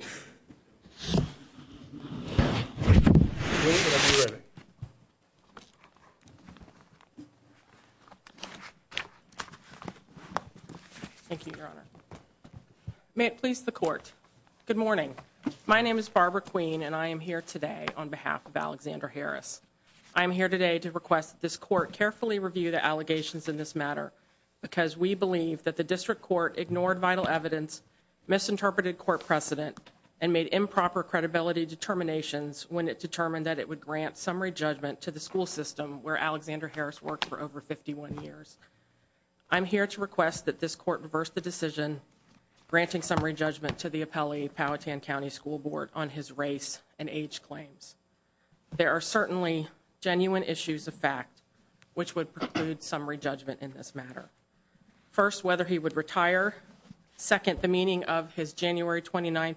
. May it please the court. Good morning. My name is Barbara Queen and I am here today on behalf of Alexander Harris. I'm here today to request this court carefully review the allegations in this matter. Because we believe that the district court ignored vital evidence misinterpreted court precedent and made improper credibility determinations when it determined that it would grant summary judgment to the school system where Alexander Harris worked for over 51 years. I'm here to request that this court reverse the decision. Granting summary judgment to the appellee Powhatan County School Board on his race and age claims. There are certainly genuine issues of fact, which would conclude summary judgment in this matter. First, whether he would retire. Second, the meaning of his January 29,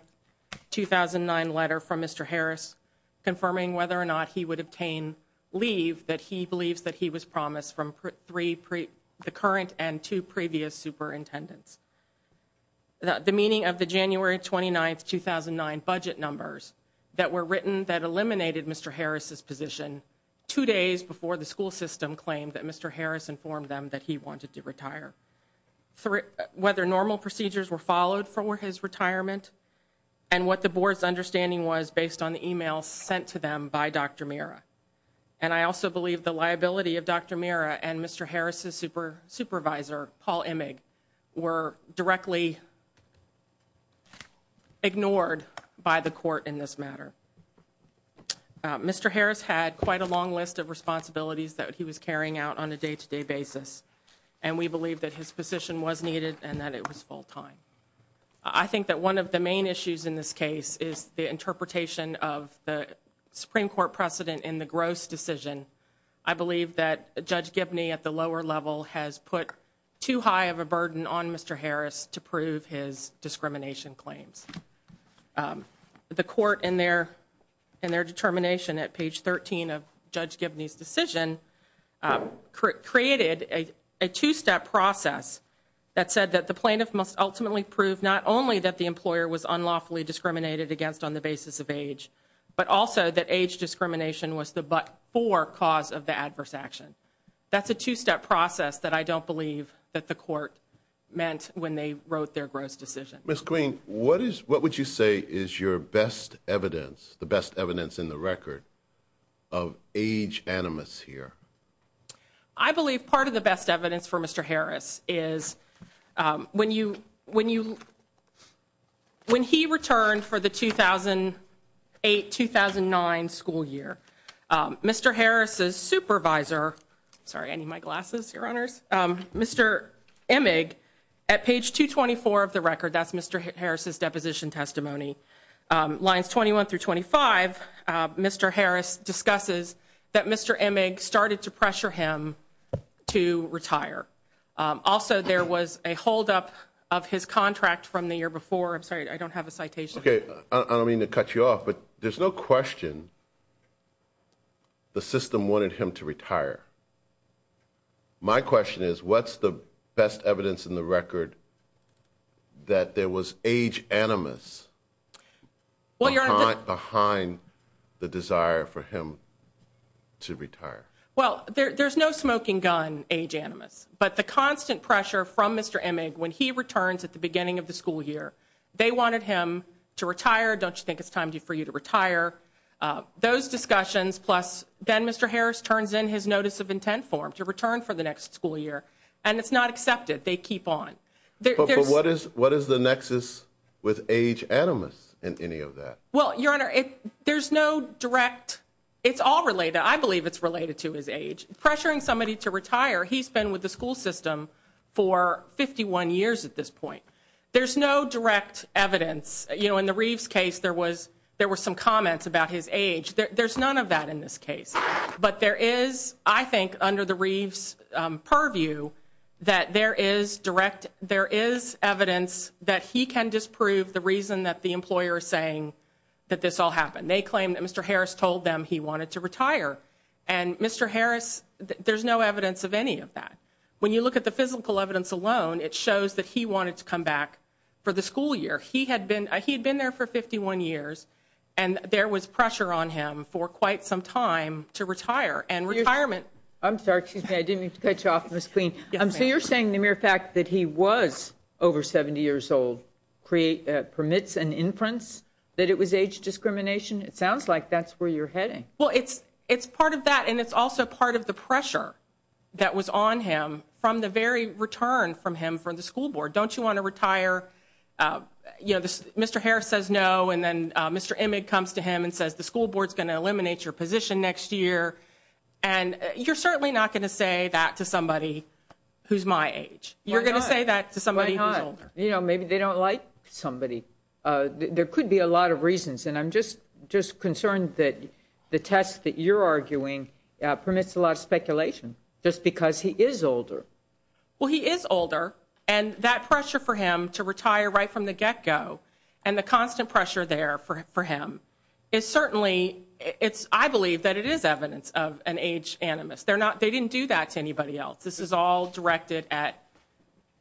2009 letter from Mr. Harris, confirming whether or not he would obtain leave that he believes that he was promised from three, the current and two previous superintendents. The meaning of the January 29, 2009 budget numbers that were written that eliminated Mr. Harris's position two days before the school system claimed that Mr. Harris informed them that he wanted to retire. Whether normal procedures were followed for his retirement and what the board's understanding was based on the email sent to them by Dr. Mira. And I also believe the liability of Dr. Mira and Mr. Harris's supervisor, Paul Emig, were directly ignored by the court in this matter. Mr. Harris had quite a long list of responsibilities that he was carrying out on a day to day basis. And we believe that his position was needed and that it was full time. I think that one of the main issues in this case is the interpretation of the Supreme Court precedent in the gross decision. I believe that Judge Gibney at the lower level has put too high of a burden on Mr. Harris to prove his discrimination claims. The court in their determination at page 13 of Judge Gibney's decision created a two-step process that said that the plaintiff must ultimately prove not only that the employer was unlawfully discriminated against on the basis of age, but also that age discrimination was the but for cause of the adverse action. That's a two-step process that I don't believe that the court meant when they wrote their gross decision. Ms. Green, what would you say is your best evidence, the best evidence in the record of age animus here? I believe part of the best evidence for Mr. Harris is when he returned for the 2008-2009 school year, Mr. Harris's supervisor, sorry, I need my glasses, your honors. Mr. Emig, at page 224 of the record, that's Mr. Harris's deposition testimony. Lines 21 through 25, Mr. Harris discusses that Mr. Emig started to pressure him to retire. Also, there was a holdup of his contract from the year before. I'm sorry, I don't have a citation. Okay, I don't mean to cut you off, but there's no question the system wanted him to retire. My question is, what's the best evidence in the record that there was age animus behind the desire for him to retire? Well, there's no smoking gun age animus. But the constant pressure from Mr. Emig when he returns at the beginning of the school year, they wanted him to retire. Don't you think it's time for you to retire? Those discussions, plus then Mr. Harris turns in his notice of intent form to return for the next school year, and it's not accepted. They keep on. But what is the nexus with age animus in any of that? Well, your honor, there's no direct, it's all related. I believe it's related to his age. Pressuring somebody to retire, he's been with the school system for 51 years at this point. There's no direct evidence. You know, in the Reeves case, there were some comments about his age. There's none of that in this case. But there is, I think, under the Reeves purview, that there is direct, there is evidence that he can disprove the reason that the employer is saying that this all happened. They claim that Mr. Harris told them he wanted to retire. And Mr. Harris, there's no evidence of any of that. When you look at the physical evidence alone, it shows that he wanted to come back for the school year. He had been there for 51 years, and there was pressure on him for quite some time to retire, and retirement. I'm sorry, excuse me, I didn't mean to cut you off, Ms. Queen. So you're saying the mere fact that he was over 70 years old permits an inference that it was age discrimination? It sounds like that's where you're heading. Well, it's part of that, and it's also part of the pressure that was on him from the very return from him from the school board. Don't you want to retire? You know, Mr. Harris says no, and then Mr. Emig comes to him and says the school board's going to eliminate your position next year. And you're certainly not going to say that to somebody who's my age. You're going to say that to somebody who's older. You know, maybe they don't like somebody. There could be a lot of reasons, and I'm just concerned that the test that you're arguing permits a lot of speculation just because he is older. Well, he is older, and that pressure for him to retire right from the get-go and the constant pressure there for him is certainly, I believe that it is evidence of an age animus. They didn't do that to anybody else. This is all directed at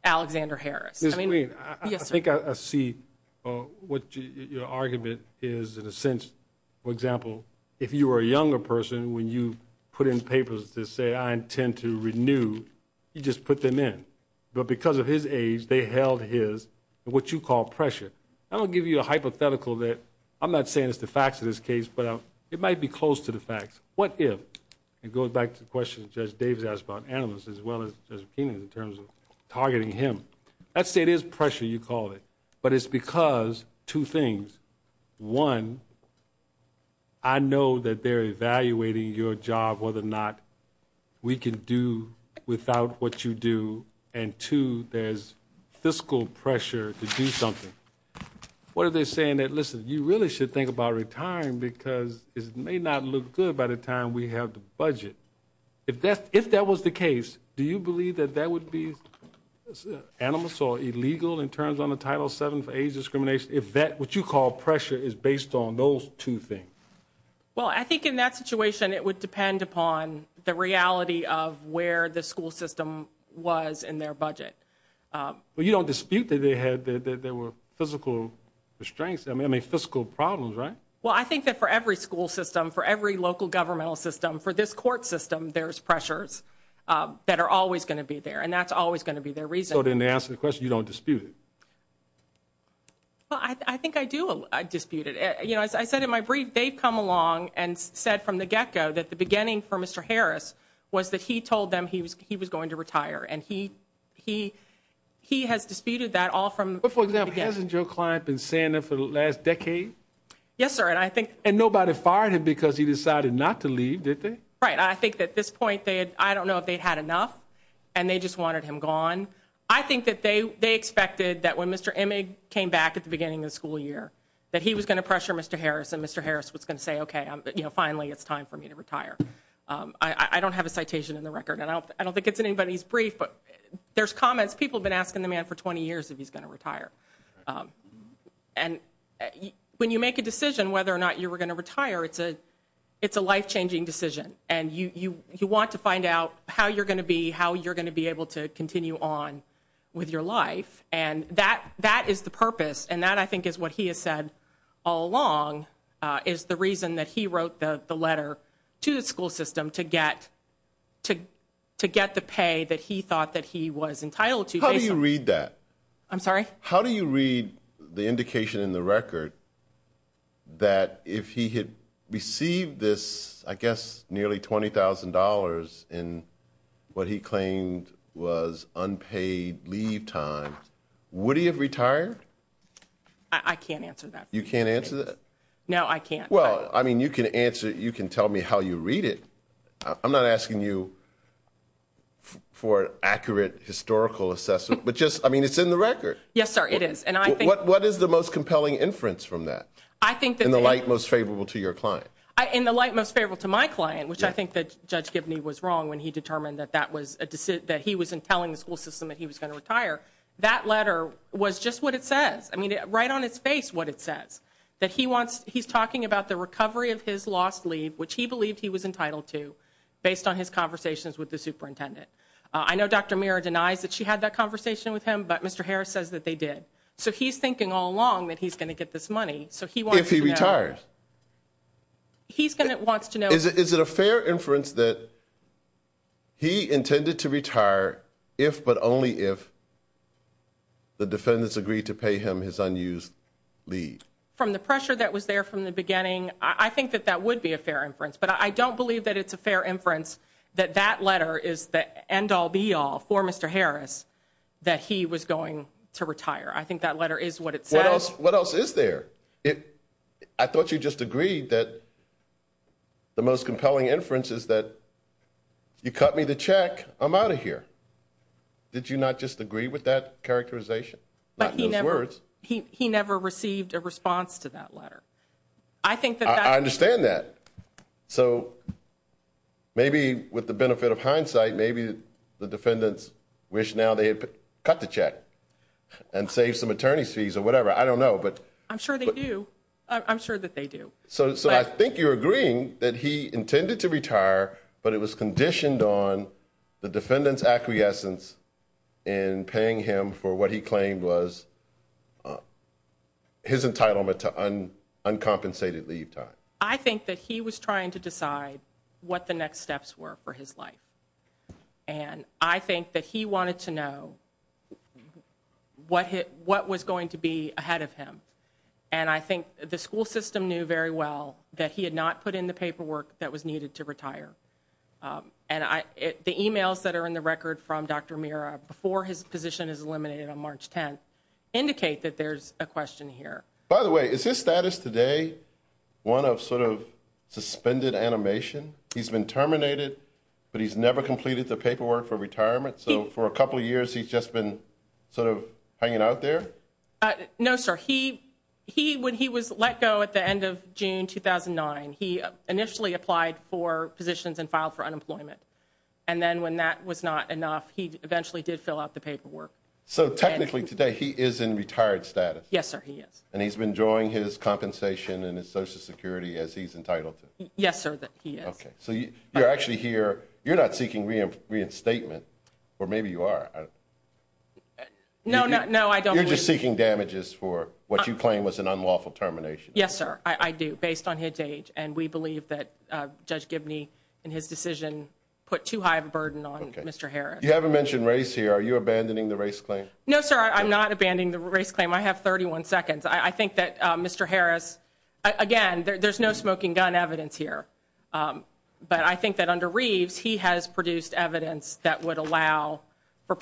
Alexander Harris. Ms. Green, I think I see what your argument is in a sense. For example, if you were a younger person, when you put in papers to say, I intend to renew, you just put them in. But because of his age, they held his, what you call pressure. I'm going to give you a hypothetical that I'm not saying is the facts of this case, but it might be close to the facts. What if, and it goes back to the question Judge Davis asked about animus as well as just opinions in terms of targeting him. Let's say it is pressure, you call it, but it's because two things. One, I know that they're evaluating your job, whether or not we can do without what you do, and two, there's fiscal pressure to do something. What are they saying? Listen, you really should think about retiring because it may not look good by the time we have the budget. If that was the case, do you believe that that would be animus or illegal in terms of Title VII for age discrimination, if what you call pressure is based on those two things? Well, I think in that situation it would depend upon the reality of where the school system was in their budget. But you don't dispute that there were fiscal restraints, I mean fiscal problems, right? Well, I think that for every school system, for every local governmental system, for this court system, there's pressures that are always going to be there, and that's always going to be their reason. So then to answer the question, you don't dispute it? Well, I think I do dispute it. As I said in my brief, they've come along and said from the get-go that the beginning for Mr. Harris was that he told them he was going to retire, and he has disputed that all from the beginning. But, for example, hasn't your client been saying that for the last decade? Yes, sir. And nobody fired him because he decided not to leave, did they? Right. I think at this point, I don't know if they had enough, and they just wanted him gone. I think that they expected that when Mr. Emig came back at the beginning of the school year, that he was going to pressure Mr. Harris and Mr. Harris was going to say, okay, finally it's time for me to retire. I don't have a citation in the record, and I don't think it's in anybody's brief, but there's comments. People have been asking the man for 20 years if he's going to retire. And when you make a decision whether or not you're going to retire, it's a life-changing decision, and you want to find out how you're going to be, how you're going to be able to continue on with your life. And that is the purpose, and that, I think, is what he has said all along, is the reason that he wrote the letter to the school system to get the pay that he thought that he was entitled to. How do you read that? I'm sorry? That if he had received this, I guess, nearly $20,000 in what he claimed was unpaid leave time, would he have retired? I can't answer that. You can't answer that? No, I can't. Well, I mean, you can tell me how you read it. I'm not asking you for an accurate historical assessment, but just, I mean, it's in the record. Yes, sir, it is. What is the most compelling inference from that, in the light most favorable to your client? In the light most favorable to my client, which I think that Judge Gibney was wrong when he determined that he was telling the school system that he was going to retire, that letter was just what it says, I mean, right on its face what it says, that he's talking about the recovery of his lost leave, which he believed he was entitled to, based on his conversations with the superintendent. I know Dr. Mira denies that she had that conversation with him, but Mr. Harris says that they did. So he's thinking all along that he's going to get this money, so he wants to know. If he retires? He wants to know. Is it a fair inference that he intended to retire if but only if the defendants agreed to pay him his unused leave? From the pressure that was there from the beginning, I think that that would be a fair inference, but I don't believe that it's a fair inference that that letter is the end-all, be-all for Mr. Harris, that he was going to retire. I think that letter is what it says. What else is there? I thought you just agreed that the most compelling inference is that you cut me the check, I'm out of here. Did you not just agree with that characterization? He never received a response to that letter. I understand that. So maybe with the benefit of hindsight, maybe the defendants wish now they had cut the check and saved some attorney's fees or whatever. I don't know. I'm sure they do. I'm sure that they do. So I think you're agreeing that he intended to retire, but it was conditioned on the defendant's acquiescence in paying him for what he claimed was his entitlement to uncompensated leave time. I think that he was trying to decide what the next steps were for his life, and I think that he wanted to know what was going to be ahead of him, and I think the school system knew very well that he had not put in the paperwork that was needed to retire. And the e-mails that are in the record from Dr. Mira before his position is eliminated on March 10th indicate that there's a question here. By the way, is his status today one of sort of suspended animation? He's been terminated, but he's never completed the paperwork for retirement, so for a couple of years he's just been sort of hanging out there? No, sir. When he was let go at the end of June 2009, he initially applied for positions and filed for unemployment, and then when that was not enough, he eventually did fill out the paperwork. So technically today he is in retired status? Yes, sir, he is. And he's been drawing his compensation and his Social Security as he's entitled to? Yes, sir, he is. Okay. So you're actually here. You're not seeking reinstatement, or maybe you are. No, I don't believe that. So you're just seeking damages for what you claim was an unlawful termination? Yes, sir, I do, based on his age, and we believe that Judge Gibney in his decision put too high of a burden on Mr. Harris. You haven't mentioned race here. Are you abandoning the race claim? No, sir, I'm not abandoning the race claim. I have 31 seconds. I think that Mr. Harris, again, there's no smoking gun evidence here, but I think that under Reeves, he has produced evidence that would allow for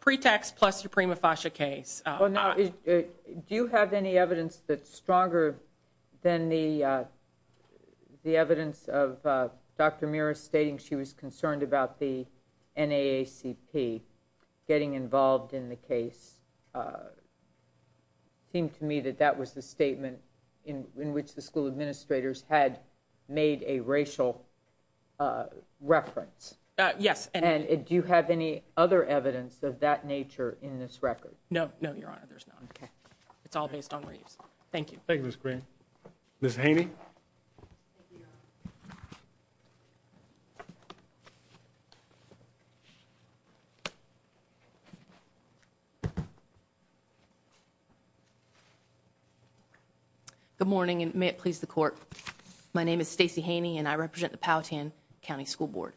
pretext plus a prima facie case. Well, now, do you have any evidence that's stronger than the evidence of Dr. Meares stating she was concerned about the NAACP getting involved in the case? It seemed to me that that was the statement in which the school administrators had made a racial reference. Yes. And do you have any other evidence of that nature in this record? No, no, Your Honor, there's none. Okay. It's all based on Reeves. Thank you. Thank you, Ms. Green. Ms. Haney? Thank you, Your Honor. Good morning, and may it please the Court. My name is Stacey Haney, and I represent the Powhatan County School Board.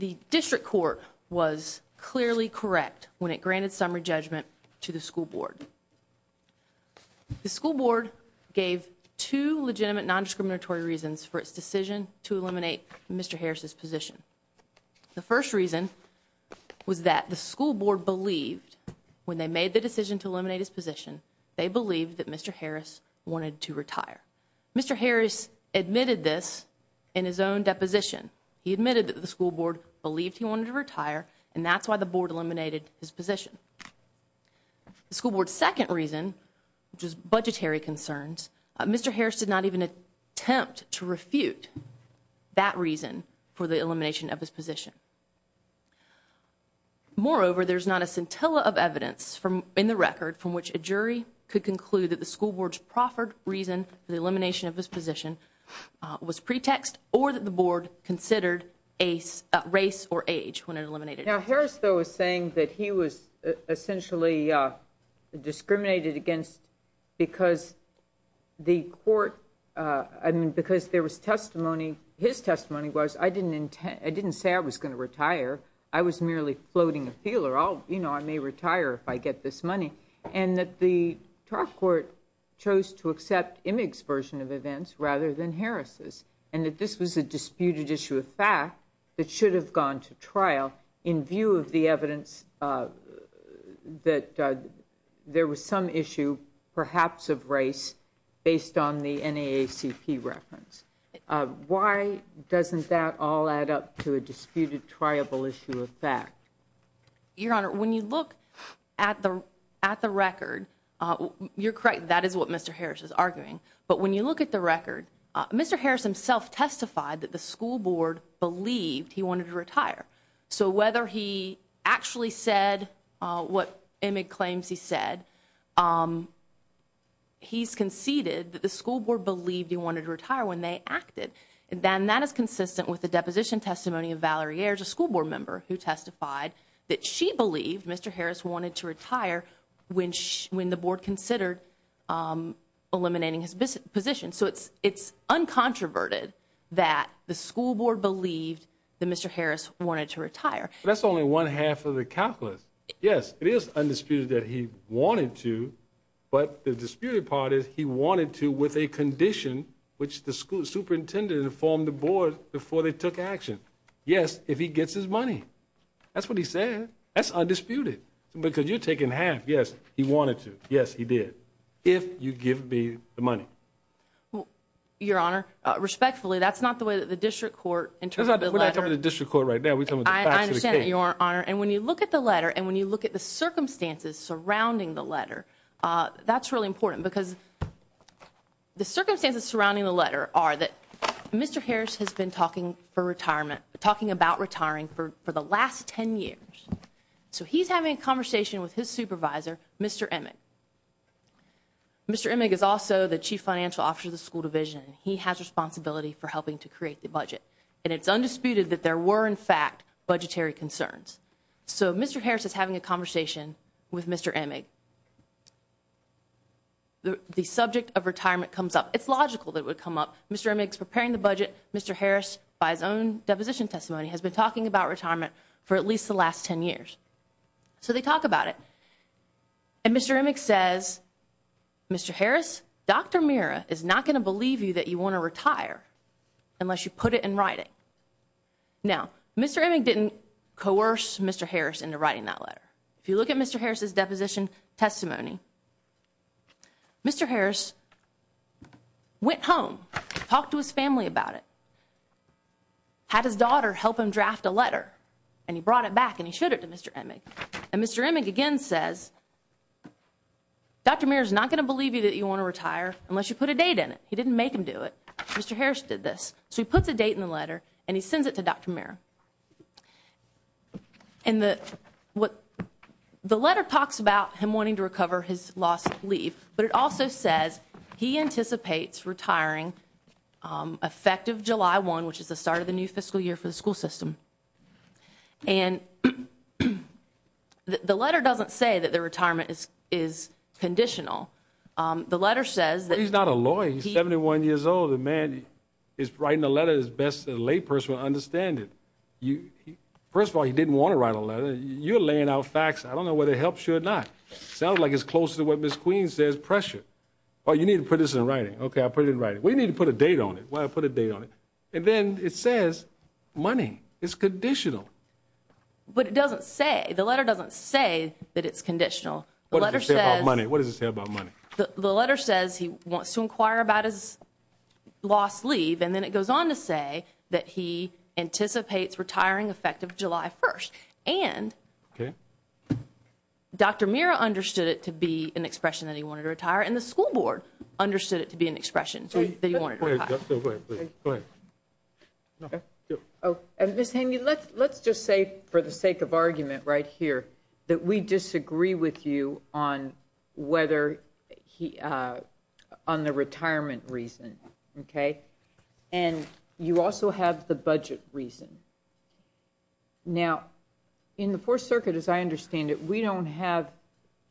The district court was clearly correct when it granted summary judgment to the school board. The school board gave two legitimate nondiscriminatory reasons for its decision to eliminate Mr. Harris' position. The first reason was that the school board believed, when they made the decision to eliminate his position, they believed that Mr. Harris wanted to retire. Mr. Harris admitted this in his own deposition. He admitted that the school board believed he wanted to retire, and that's why the board eliminated his position. The school board's second reason, which is budgetary concerns, Mr. Harris did not even attempt to refute that reason for the elimination of his position. Moreover, there's not a scintilla of evidence in the record from which a jury could conclude that the school board's proffered reason for the elimination of his position was pretext or that the board considered race or age when it eliminated him. Now, Harris, though, was saying that he was essentially discriminated against because there was testimony. His testimony was, I didn't say I was going to retire. I was merely floating a feeler. You know, I may retire if I get this money. And that the trial court chose to accept Emig's version of events rather than Harris' and that this was a disputed issue of fact that should have gone to trial in view of the evidence that there was some issue perhaps of race based on the NAACP reference. Why doesn't that all add up to a disputed, triable issue of fact? Your Honor, when you look at the record, you're correct. That is what Mr. Harris is arguing. But when you look at the record, Mr. Harris himself testified that the school board believed he wanted to retire. So whether he actually said what Emig claims he said, he's conceded that the school board believed he wanted to retire when they acted. And that is consistent with the deposition testimony of Valerie Ayers, a school board member, who testified that she believed Mr. Harris wanted to retire when the board considered eliminating his position. So it's uncontroverted that the school board believed that Mr. Harris wanted to retire. That's only one half of the calculus. Yes, it is undisputed that he wanted to. But the disputed part is he wanted to with a condition which the school superintendent informed the board before they took action. Yes, if he gets his money. That's what he said. That's undisputed. Because you're taking half. Yes, he wanted to. Yes, he did. If you give me the money. Your Honor, respectfully, that's not the way that the district court interprets the letter. We're not talking about the district court right now. We're talking about the facts of the case. I understand that, Your Honor. And when you look at the letter and when you look at the circumstances surrounding the letter, that's really important. Because the circumstances surrounding the letter are that Mr. Harris has been talking about retiring for the last ten years. So he's having a conversation with his supervisor, Mr. Emig. Mr. Emig is also the chief financial officer of the school division. He has responsibility for helping to create the budget. And it's undisputed that there were, in fact, budgetary concerns. So Mr. Harris is having a conversation with Mr. Emig. The subject of retirement comes up. It's logical that it would come up. Mr. Emig is preparing the budget. Mr. Harris, by his own deposition testimony, has been talking about retirement for at least the last ten years. So they talk about it. And Mr. Emig says, Mr. Harris, Dr. Mira is not going to believe you that you want to retire unless you put it in writing. Now, Mr. Emig didn't coerce Mr. Harris into writing that letter. If you look at Mr. Harris' deposition testimony, Mr. Harris went home, talked to his family about it, had his daughter help him draft a letter, and he brought it back and he showed it to Mr. Emig. And Mr. Emig again says, Dr. Mira is not going to believe you that you want to retire unless you put a date in it. He didn't make him do it. Mr. Harris did this. So he puts a date in the letter and he sends it to Dr. Mira. The letter talks about him wanting to recover his lost leave, but it also says he anticipates retiring effective July 1, which is the start of the new fiscal year for the school system. And the letter doesn't say that the retirement is conditional. The letter says that he's not a lawyer. He's 71 years old. The man is writing a letter as best a lay person would understand it. First of all, he didn't want to write a letter. You're laying out facts. I don't know whether it helps you or not. It sounds like it's close to what Ms. Queen says, pressure. Oh, you need to put this in writing. Okay, I'll put it in writing. Well, you need to put a date on it. Well, I'll put a date on it. And then it says money is conditional. But it doesn't say. The letter doesn't say that it's conditional. What does it say about money? The letter says he wants to inquire about his lost leave, and then it goes on to say that he anticipates retiring effective July 1. And Dr. Mira understood it to be an expression that he wanted to retire, and the school board understood it to be an expression that he wanted to retire. Go ahead. Go ahead. Ms. Haney, let's just say, for the sake of argument right here, that we disagree with you on the retirement reason, okay? And you also have the budget reason. Now, in the Fourth Circuit, as I understand it, we don't have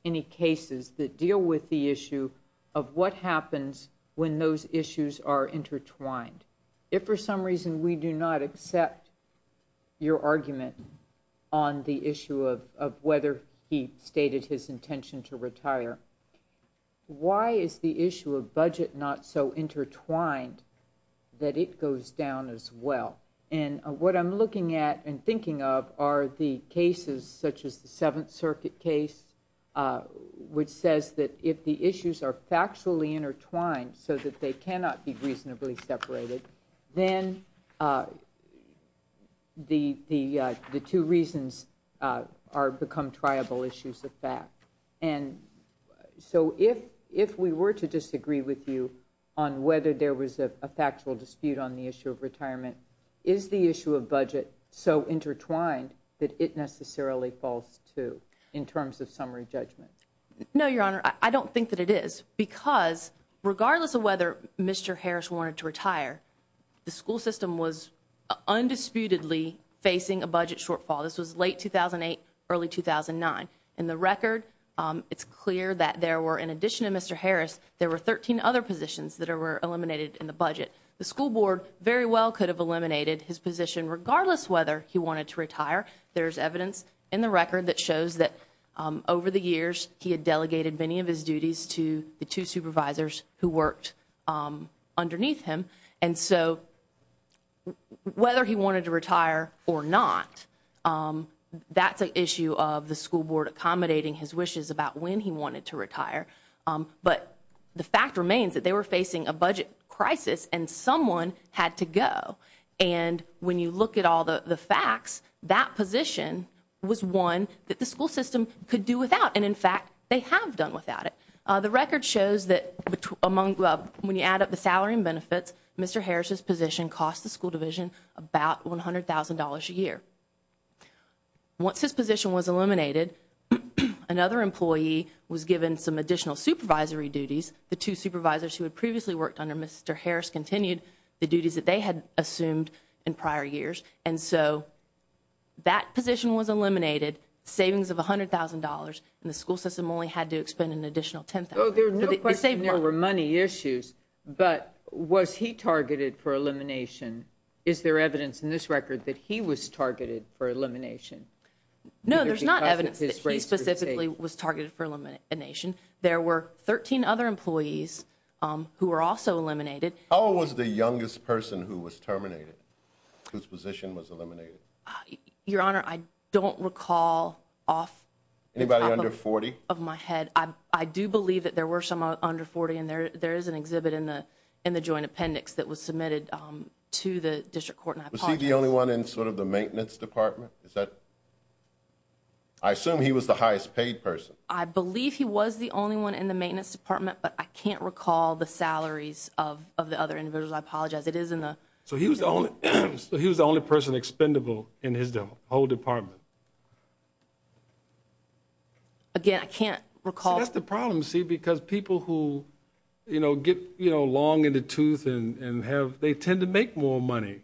any cases that deal with the issue of what happens when those issues are intertwined. If for some reason we do not accept your argument on the issue of whether he stated his intention to retire, why is the issue of budget not so intertwined that it goes down as well? And what I'm looking at and thinking of are the cases such as the Seventh Circuit case, which says that if the issues are factually intertwined so that they cannot be reasonably separated, then the two reasons become triable issues of fact. And so if we were to disagree with you on whether there was a factual dispute on the issue of retirement, is the issue of budget so intertwined that it necessarily falls, too, in terms of summary judgment? No, Your Honor, I don't think that it is. Because regardless of whether Mr. Harris wanted to retire, the school system was undisputedly facing a budget shortfall. This was late 2008, early 2009. In the record, it's clear that there were, in addition to Mr. Harris, there were 13 other positions that were eliminated in the budget. The school board very well could have eliminated his position regardless whether he wanted to retire. There's evidence in the record that shows that over the years he had two supervisors who worked underneath him. And so whether he wanted to retire or not, that's an issue of the school board accommodating his wishes about when he wanted to retire. But the fact remains that they were facing a budget crisis and someone had to go. And when you look at all the facts, that position was one that the school system could do without. And, in fact, they have done without it. The record shows that when you add up the salary and benefits, Mr. Harris' position cost the school division about $100,000 a year. Once his position was eliminated, another employee was given some additional supervisory duties. The two supervisors who had previously worked under Mr. Harris continued the duties that they had assumed in prior years. And so that position was eliminated, savings of $100,000, and the school system only had to expend an additional $10,000. There were money issues, but was he targeted for elimination? Is there evidence in this record that he was targeted for elimination? No, there's not evidence that he specifically was targeted for elimination. There were 13 other employees who were also eliminated. How old was the youngest person who was terminated, whose position was eliminated? Your Honor, I don't recall off. Anybody under 40? Off my head. I do believe that there were some under 40, and there is an exhibit in the joint appendix that was submitted to the district court. Was he the only one in sort of the maintenance department? I assume he was the highest paid person. I believe he was the only one in the maintenance department, but I can't recall the salaries of the other individuals. I apologize. So he was the only person expendable in his whole department. Again, I can't recall. That's the problem, see, because people who get long in the tooth and they tend to make more money.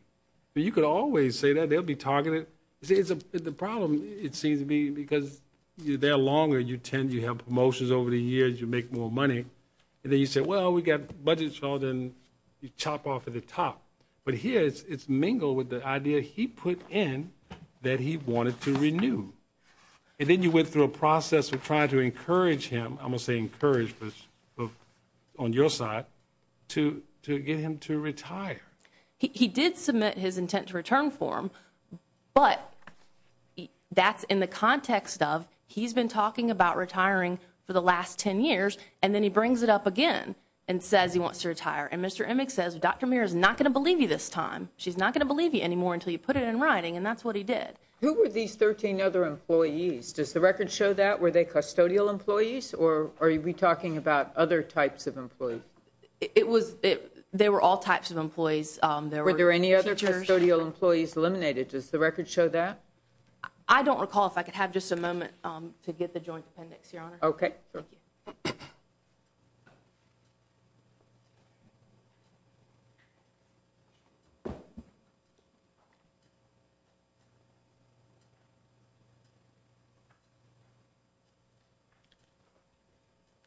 You could always say that. They'll be targeted. The problem, it seems to me, because the longer you tend, you have promotions over the years, you make more money, and then you say, well, we've got budget, so then you chop off at the top. But here it's mingled with the idea he put in that he wanted to renew. And then you went through a process of trying to encourage him, I'm going to say encourage on your side, to get him to retire. He did submit his intent to return form, but that's in the context of he's been talking about retiring for the last 10 years, and then he brings it up again and says he wants to retire. And Mr. Emick says, Dr. Muir is not going to believe you this time. She's not going to believe you anymore until you put it in writing, and that's what he did. Who were these 13 other employees? Does the record show that? Were they custodial employees, or are we talking about other types of employees? They were all types of employees. Were there any other custodial employees eliminated? Does the record show that? I don't recall. If I could have just a moment to get the joint appendix, Your Honor. Okay. Thank you.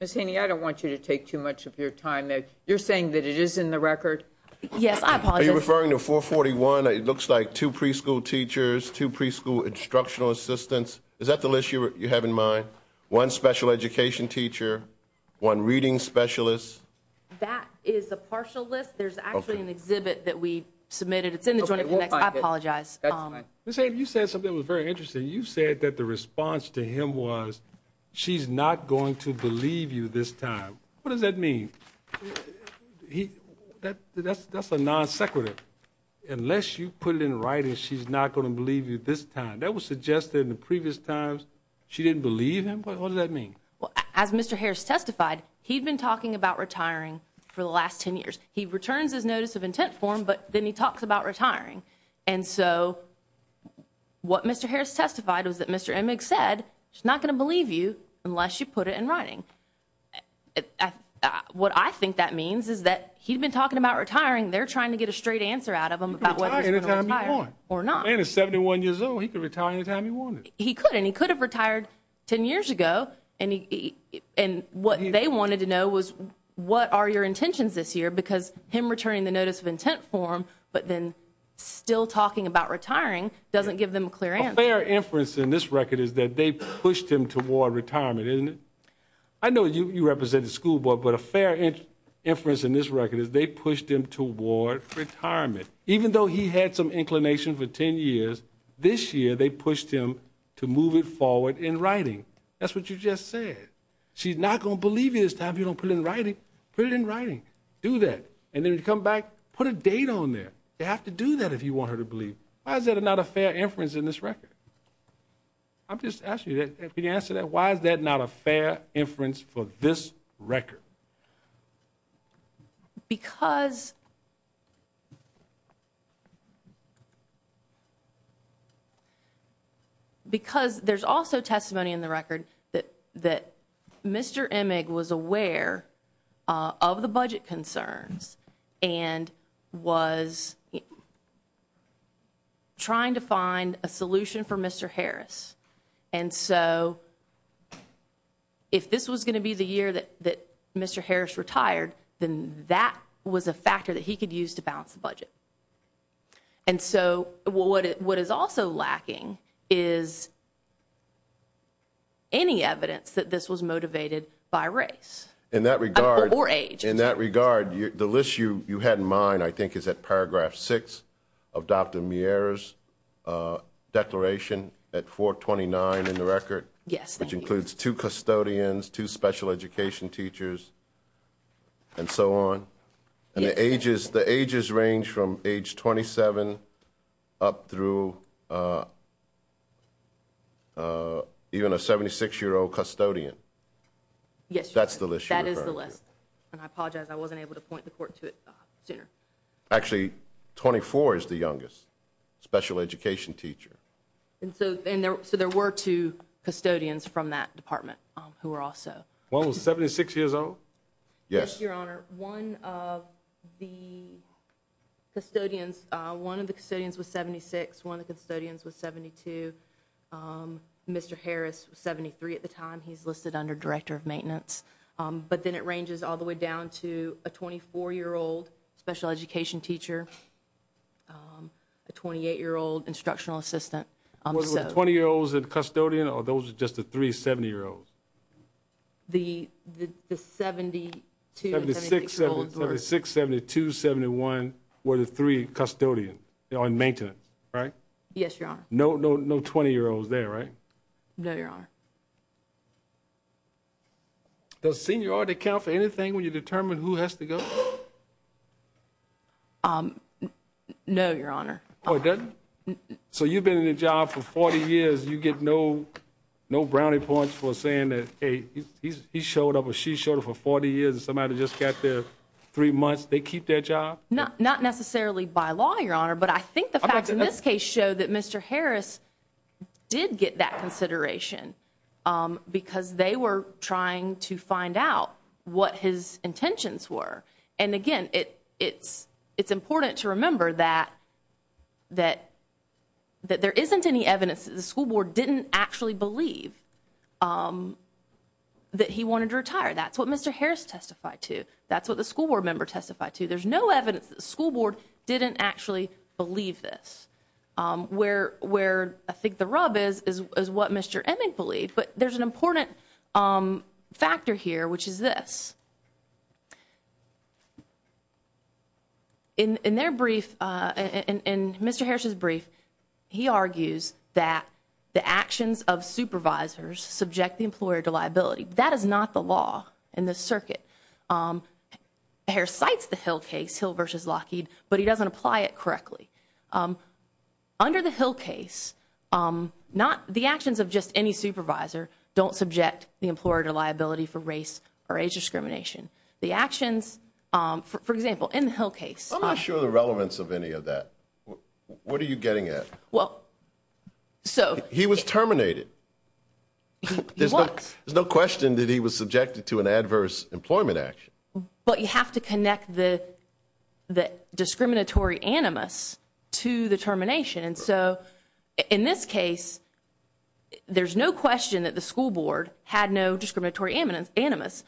Ms. Haney, I don't want you to take too much of your time. You're saying that it is in the record? Yes, I apologize. Are you referring to 441? It looks like two preschool teachers, two preschool instructional assistants. Is that the list you have in mind? One special education teacher, one reading specialist. That is a partial list. There's actually an exhibit that we submitted. It's in the joint appendix. I apologize. Ms. Haney, you said something that was very interesting. You said that the response to him was, she's not going to believe you this time. What does that mean? That's a non-sequitur. Unless you put it in writing, she's not going to believe you this time. That was suggested in the previous times. She didn't believe him? What does that mean? As Mr. Harris testified, he'd been talking about retiring for the last 10 years. He returns his notice of intent form, but then he talks about retiring. And so what Mr. Harris testified was that Mr. Emick said, she's not going to believe you unless you put it in writing. What I think that means is that he'd been talking about retiring. They're trying to get a straight answer out of him about whether he's going to retire or not. The man is 71 years old. He could retire any time he wanted. He could, and he could have retired 10 years ago. And what they wanted to know was, what are your intentions this year? Because him returning the notice of intent form, but then still talking about retiring doesn't give them a clear answer. A fair inference in this record is that they pushed him toward retirement, isn't it? I know you represent the school board, but a fair inference in this record is they pushed him toward retirement. Even though he had some inclination for 10 years, this year they pushed him to move it forward in writing. That's what you just said. She's not going to believe you this time if you don't put it in writing. Put it in writing. Do that. And then when you come back, put a date on there. You have to do that if you want her to believe. Why is that not a fair inference in this record? I'm just asking you that. Can you answer that? Why is that not a fair inference for this record? Because there's also testimony in the record that Mr. Emig was aware of the budget concerns and was trying to find a solution for Mr. Harris. And so if this was going to be the year that Mr. Harris retired, then that was a factor that he could use to balance the budget. And so what is also lacking is any evidence that this was motivated by race. Or age. In that regard, the list you had in mind, I think, is at paragraph 6 of Dr. Miera's declaration at 429 in the record, which includes two custodians, two special education teachers, and so on. And the ages range from age 27 up through even a 76-year-old custodian. That's the list you referred to. And I apologize. I wasn't able to point the court to it sooner. Actually, 24 is the youngest special education teacher. And so there were two custodians from that department who were also. One was 76 years old? Yes, Your Honor. One of the custodians was 76. One of the custodians was 72. Mr. Harris was 73 at the time. He's listed under Director of Maintenance. But then it ranges all the way down to a 24-year-old special education teacher, a 28-year-old instructional assistant. Were the 20-year-olds a custodian or those were just the three 70-year-olds? The 72 and 76-year-olds were. 76, 72, 71 were the three custodians in maintenance, right? Yes, Your Honor. No 20-year-olds there, right? No, Your Honor. Does seniority count for anything when you determine who has to go? No, Your Honor. Oh, it doesn't? So you've been in the job for 40 years. You get no brownie points for saying that, hey, he showed up or she showed up for 40 years and somebody just got there three months. They keep their job? Not necessarily by law, Your Honor, but I think the facts in this case show that Mr. Harris did get that consideration because they were trying to find out what his intentions were. And, again, it's important to remember that there isn't any evidence that the school board didn't actually believe that he wanted to retire. That's what Mr. Harris testified to. That's what the school board member testified to. There's no evidence that the school board didn't actually believe this. Where I think the rub is is what Mr. Emmett believed, but there's an important factor here, which is this. In their brief, in Mr. Harris' brief, he argues that the actions of supervisors subject the employer to liability. That is not the law in this circuit. Harris cites the Hill case, Hill v. Lockheed, but he doesn't apply it correctly. Under the Hill case, the actions of just any supervisor don't subject the employer to liability for race or age discrimination. The actions, for example, in the Hill case. I'm not sure of the relevance of any of that. What are you getting at? He was terminated. He was. There's no question that he was subjected to an adverse employment action. But you have to connect the discriminatory animus to the termination. And so in this case, there's no question that the school board had no discriminatory animus.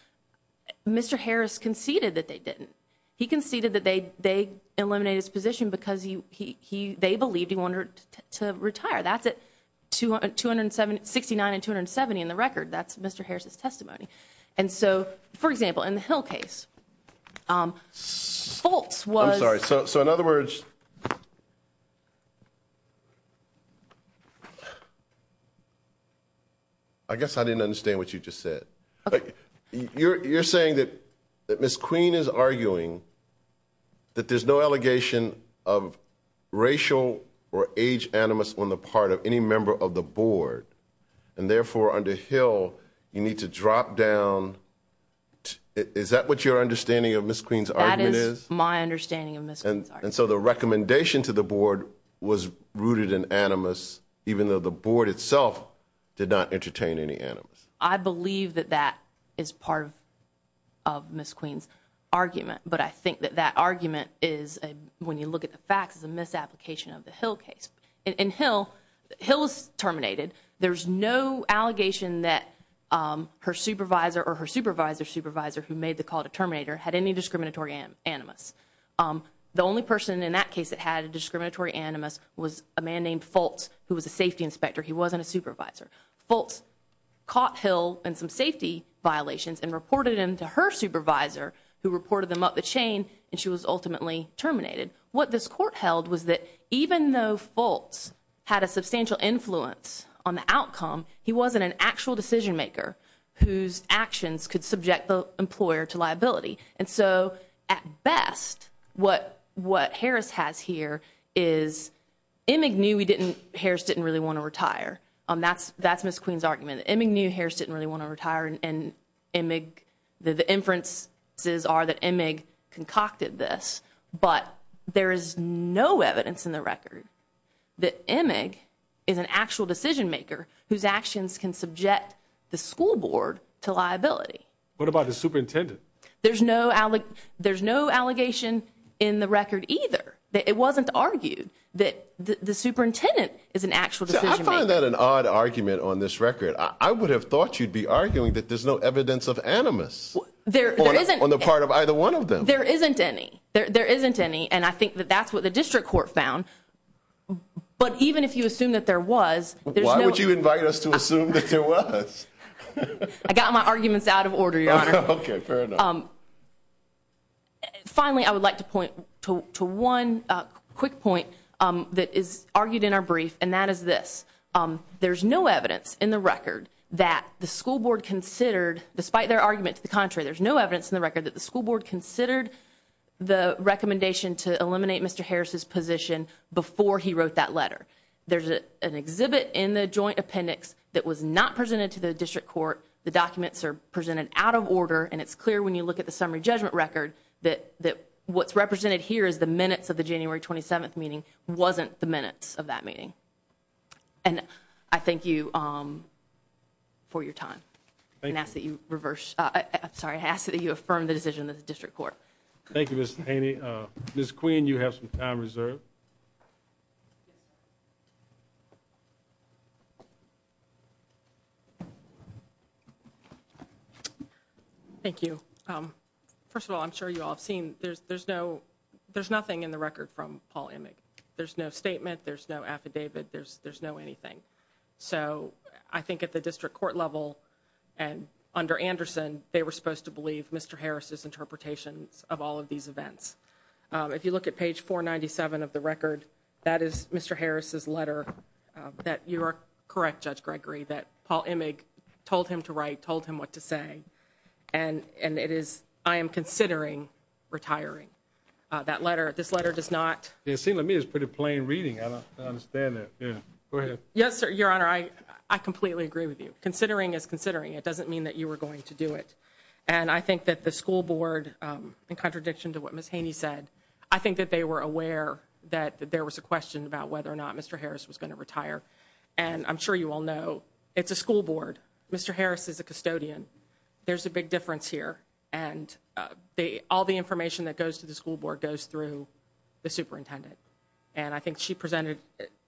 Mr. Harris conceded that they didn't. He conceded that they eliminated his position because they believed he wanted to retire. That's at 269 and 270 in the record. That's Mr. Harris' testimony. And so, for example, in the Hill case, Fultz was. I'm sorry. So in other words, I guess I didn't understand what you just said. You're saying that Ms. Queen is arguing that there's no allegation of racial or age animus on the part of any member of the board. And therefore, under Hill, you need to drop down. Is that what your understanding of Ms. Queen's argument is? That is my understanding of Ms. Queen's argument. And so the recommendation to the board was rooted in animus, even though the board itself did not entertain any animus. I believe that that is part of Ms. Queen's argument. But I think that that argument is, when you look at the facts, is a misapplication of the Hill case. In Hill, Hill is terminated. There's no allegation that her supervisor or her supervisor's supervisor who made the call to terminate her had any discriminatory animus. The only person in that case that had a discriminatory animus was a man named Fultz, who was a safety inspector. He wasn't a supervisor. Fultz caught Hill in some safety violations and reported him to her supervisor, who reported them up the chain, and she was ultimately terminated. What this court held was that even though Fultz had a substantial influence on the outcome, he wasn't an actual decision-maker whose actions could subject the employer to liability. And so at best, what Harris has here is Emig knew Harris didn't really want to retire. That's Ms. Queen's argument. Emig knew Harris didn't really want to retire, and the inferences are that Emig concocted this. But there is no evidence in the record that Emig is an actual decision-maker whose actions can subject the school board to liability. What about the superintendent? There's no allegation in the record either. It wasn't argued that the superintendent is an actual decision-maker. I find that an odd argument on this record. I would have thought you'd be arguing that there's no evidence of animus on the part of either one of them. There isn't any. There isn't any, and I think that that's what the district court found. But even if you assume that there was, there's no— Why would you invite us to assume that there was? I got my arguments out of order, Your Honor. Okay, fair enough. Finally, I would like to point to one quick point that is argued in our brief, and that is this. There's no evidence in the record that the school board considered, despite their argument to the contrary, there's no evidence in the record that the school board considered the recommendation to eliminate Mr. Harris' position before he wrote that letter. There's an exhibit in the joint appendix that was not presented to the district court. The documents are presented out of order, and it's clear when you look at the summary judgment record that what's represented here is the minutes of the January 27th meeting, wasn't the minutes of that meeting. And I thank you for your time. Thank you. And ask that you reverse—I'm sorry, ask that you affirm the decision of the district court. Thank you, Ms. Haney. Ms. Queen, you have some time reserved. Thank you. First of all, I'm sure you all have seen, there's nothing in the record from Paul Immig. There's no statement. There's no affidavit. There's no anything. So I think at the district court level and under Anderson, they were supposed to believe Mr. Harris' interpretations of all of these events. If you look at page 497 of the record, that is Mr. Harris' letter that you are correct, Judge Gregory, that Paul Immig told him to write, told him what to say. And it is, I am considering retiring. That letter, this letter does not— It seems to me it's pretty plain reading. I don't understand that. Go ahead. Yes, Your Honor, I completely agree with you. Considering is considering. It doesn't mean that you were going to do it. And I think that the school board, in contradiction to what Ms. Haney said, I think that they were aware that there was a question about whether or not Mr. Harris was going to retire. And I'm sure you all know it's a school board. Mr. Harris is a custodian. There's a big difference here. And all the information that goes to the school board goes through the superintendent. And I think she presented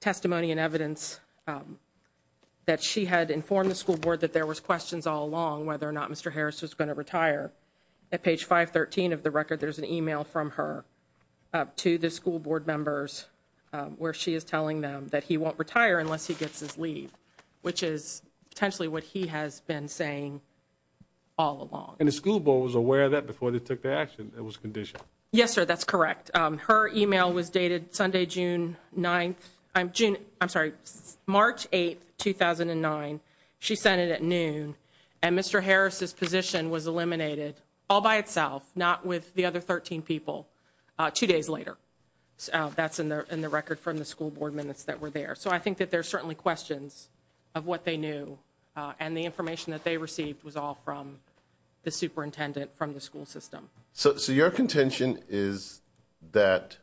testimony and evidence that she had informed the school board that there was questions all along whether or not Mr. Harris was going to retire. At page 513 of the record, there's an email from her to the school board members where she is telling them that he won't retire unless he gets his leave, which is potentially what he has been saying all along. And the school board was aware of that before they took the action. It was conditioned. Yes, sir, that's correct. Her email was dated Sunday, June 9th—I'm sorry, March 8th, 2009. She sent it at noon. And Mr. Harris's position was eliminated all by itself, not with the other 13 people, two days later. That's in the record from the school board minutes that were there. So I think that there are certainly questions of what they knew, and the information that they received was all from the superintendent from the school system. So your contention is that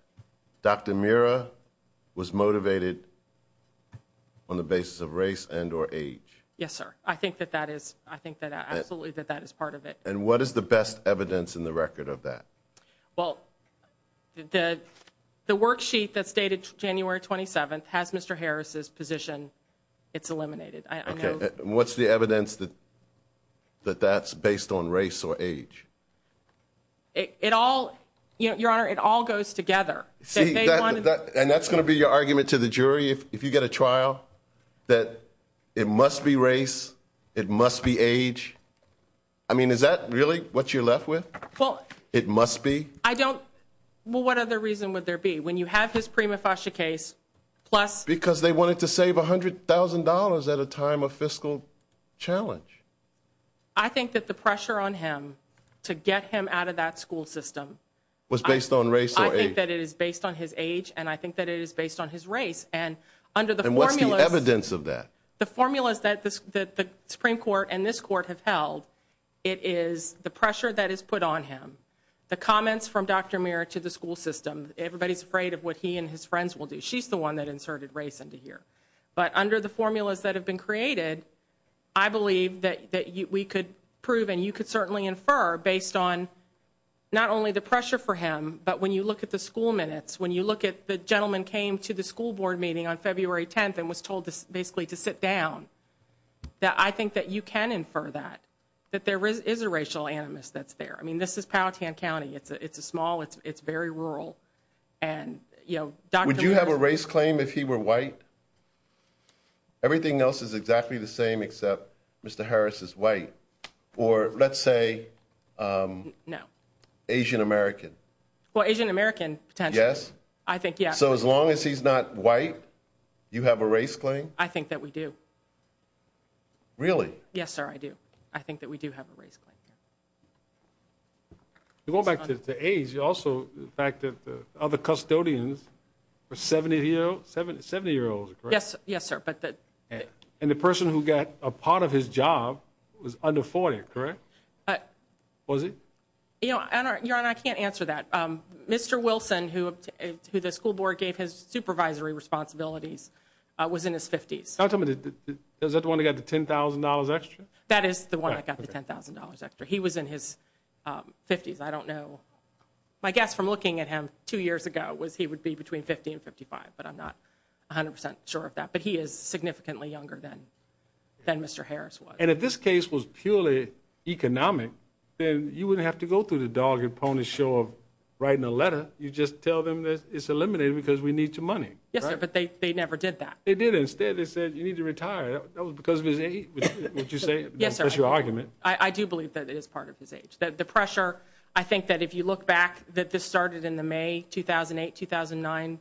Dr. Mira was motivated on the basis of race and or age. Yes, sir. I think that that is—I think that absolutely that that is part of it. And what is the best evidence in the record of that? Well, the worksheet that's dated January 27th has Mr. Harris's position. It's eliminated. Okay. What's the evidence that that's based on race or age? It all—Your Honor, it all goes together. See, and that's going to be your argument to the jury if you get a trial, that it must be race, it must be age. I mean, is that really what you're left with? Well— It must be? I don't—well, what other reason would there be? When you have his prima facie case, plus— Because they wanted to save $100,000 at a time of fiscal challenge. I think that the pressure on him to get him out of that school system— Was based on race or age. I think that it is based on his age, and I think that it is based on his race. And under the formula— And what's the evidence of that? The formulas that the Supreme Court and this court have held, it is the pressure that is put on him, the comments from Dr. Muir to the school system. Everybody's afraid of what he and his friends will do. She's the one that inserted race into here. But under the formulas that have been created, I believe that we could prove and you could certainly infer based on not only the pressure for him, but when you look at the school minutes, when you look at the gentleman came to the school board meeting on February 10th and was told basically to sit down, that I think that you can infer that, that there is a racial animus that's there. I mean, this is Powhatan County. It's small. It's very rural. Would you have a race claim if he were white? Everything else is exactly the same except Mr. Harris is white. Or let's say Asian-American. Well, Asian-American, potentially. Yes? I think yes. So as long as he's not white, you have a race claim? I think that we do. Really? Yes, sir, I do. I think that we do have a race claim. Going back to age, also the fact that the other custodians were 70-year-olds, correct? Yes, sir. And the person who got a part of his job was under 40, correct? Was he? Your Honor, I can't answer that. Mr. Wilson, who the school board gave his supervisory responsibilities, was in his 50s. Is that the one that got the $10,000 extra? That is the one that got the $10,000 extra. He was in his 50s. I don't know. My guess from looking at him two years ago was he would be between 50 and 55, but I'm not 100 percent sure of that. But he is significantly younger than Mr. Harris was. And if this case was purely economic, then you wouldn't have to go through the dog and pony show of writing a letter. You just tell them that it's eliminated because we need your money. Yes, sir, but they never did that. They did. Instead, they said you need to retire. That was because of his age, would you say? Yes, sir. That's your argument. I do believe that it is part of his age. The pressure, I think that if you look back, that this started in the May 2008-2009.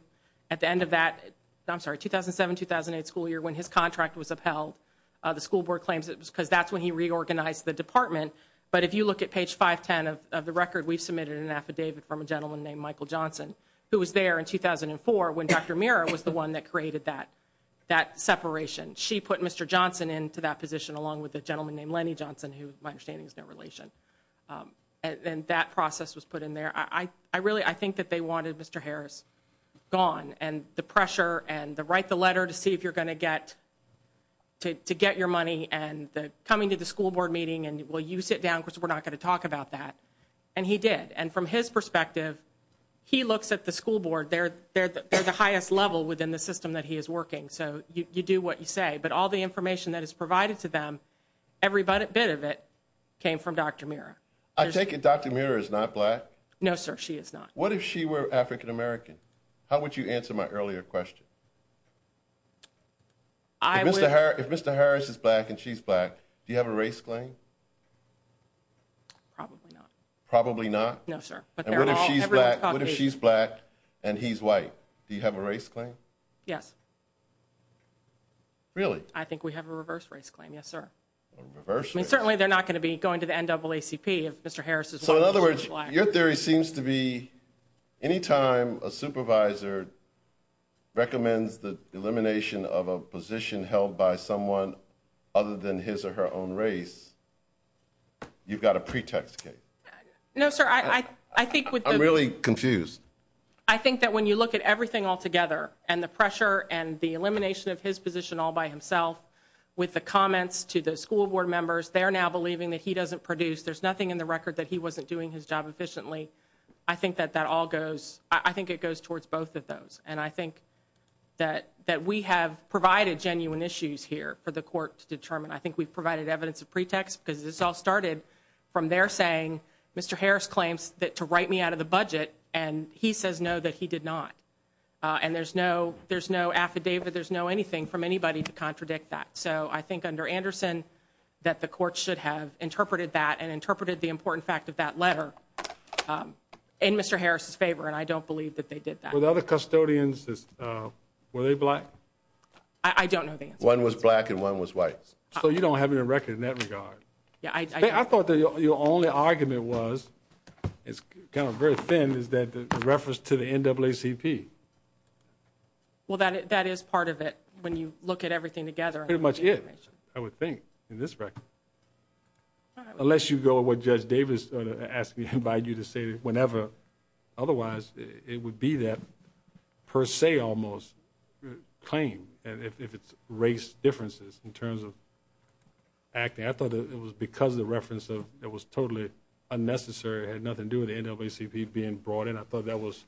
The school board claims it was because that's when he reorganized the department. But if you look at page 510 of the record, we've submitted an affidavit from a gentleman named Michael Johnson, who was there in 2004 when Dr. Mirra was the one that created that separation. She put Mr. Johnson into that position along with a gentleman named Lenny Johnson, who my understanding is no relation. And that process was put in there. I really think that they wanted Mr. Harris gone. And the pressure and the write the letter to see if you're going to get your money and coming to the school board meeting and, well, you sit down, because we're not going to talk about that. And he did. And from his perspective, he looks at the school board. They're the highest level within the system that he is working. So you do what you say. But all the information that is provided to them, every bit of it came from Dr. Mirra. I take it Dr. Mirra is not black? No, sir, she is not. What if she were African American? How would you answer my earlier question? If Mr. Harris is black and she's black, do you have a race claim? Probably not. Probably not? No, sir. What if she's black and he's white? Do you have a race claim? Yes. Really? I think we have a reverse race claim, yes, sir. A reverse race? So in other words, your theory seems to be anytime a supervisor recommends the elimination of a position held by someone other than his or her own race, you've got a pretext case. No, sir. I'm really confused. I think that when you look at everything altogether and the pressure and the elimination of his position all by himself, with the comments to the school board members, they're now believing that he doesn't produce. There's nothing in the record that he wasn't doing his job efficiently. I think that that all goes, I think it goes towards both of those. And I think that we have provided genuine issues here for the court to determine. I think we've provided evidence of pretext because this all started from their saying, Mr. Harris claims to write me out of the budget, and he says no, that he did not. And there's no affidavit, there's no anything from anybody to contradict that. So I think under Anderson that the court should have interpreted that and interpreted the important fact of that letter in Mr. Harris's favor, and I don't believe that they did that. Were the other custodians, were they black? I don't know the answer. One was black and one was white. So you don't have any record in that regard. Yeah, I do. I thought that your only argument was, it's kind of very thin, is that the reference to the NAACP. Well, that is part of it when you look at everything together. It pretty much is, I would think, in this record. Unless you go with what Judge Davis asked me to invite you to say whenever, otherwise it would be that per se almost claim if it's race differences in terms of acting. I thought it was because of the reference of it was totally unnecessary, it had nothing to do with the NAACP being brought in. I thought that was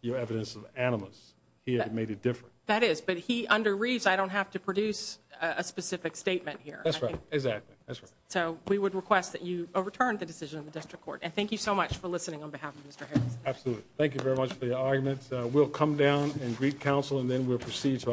your evidence of animus. He had made it different. That is. But he underreads. I don't have to produce a specific statement here. That's right. Exactly. That's right. So we would request that you overturn the decision of the district court. And thank you so much for listening on behalf of Mr. Harris. Absolutely. Thank you very much for your arguments. We'll come down and greet counsel and then we'll proceed to our next case.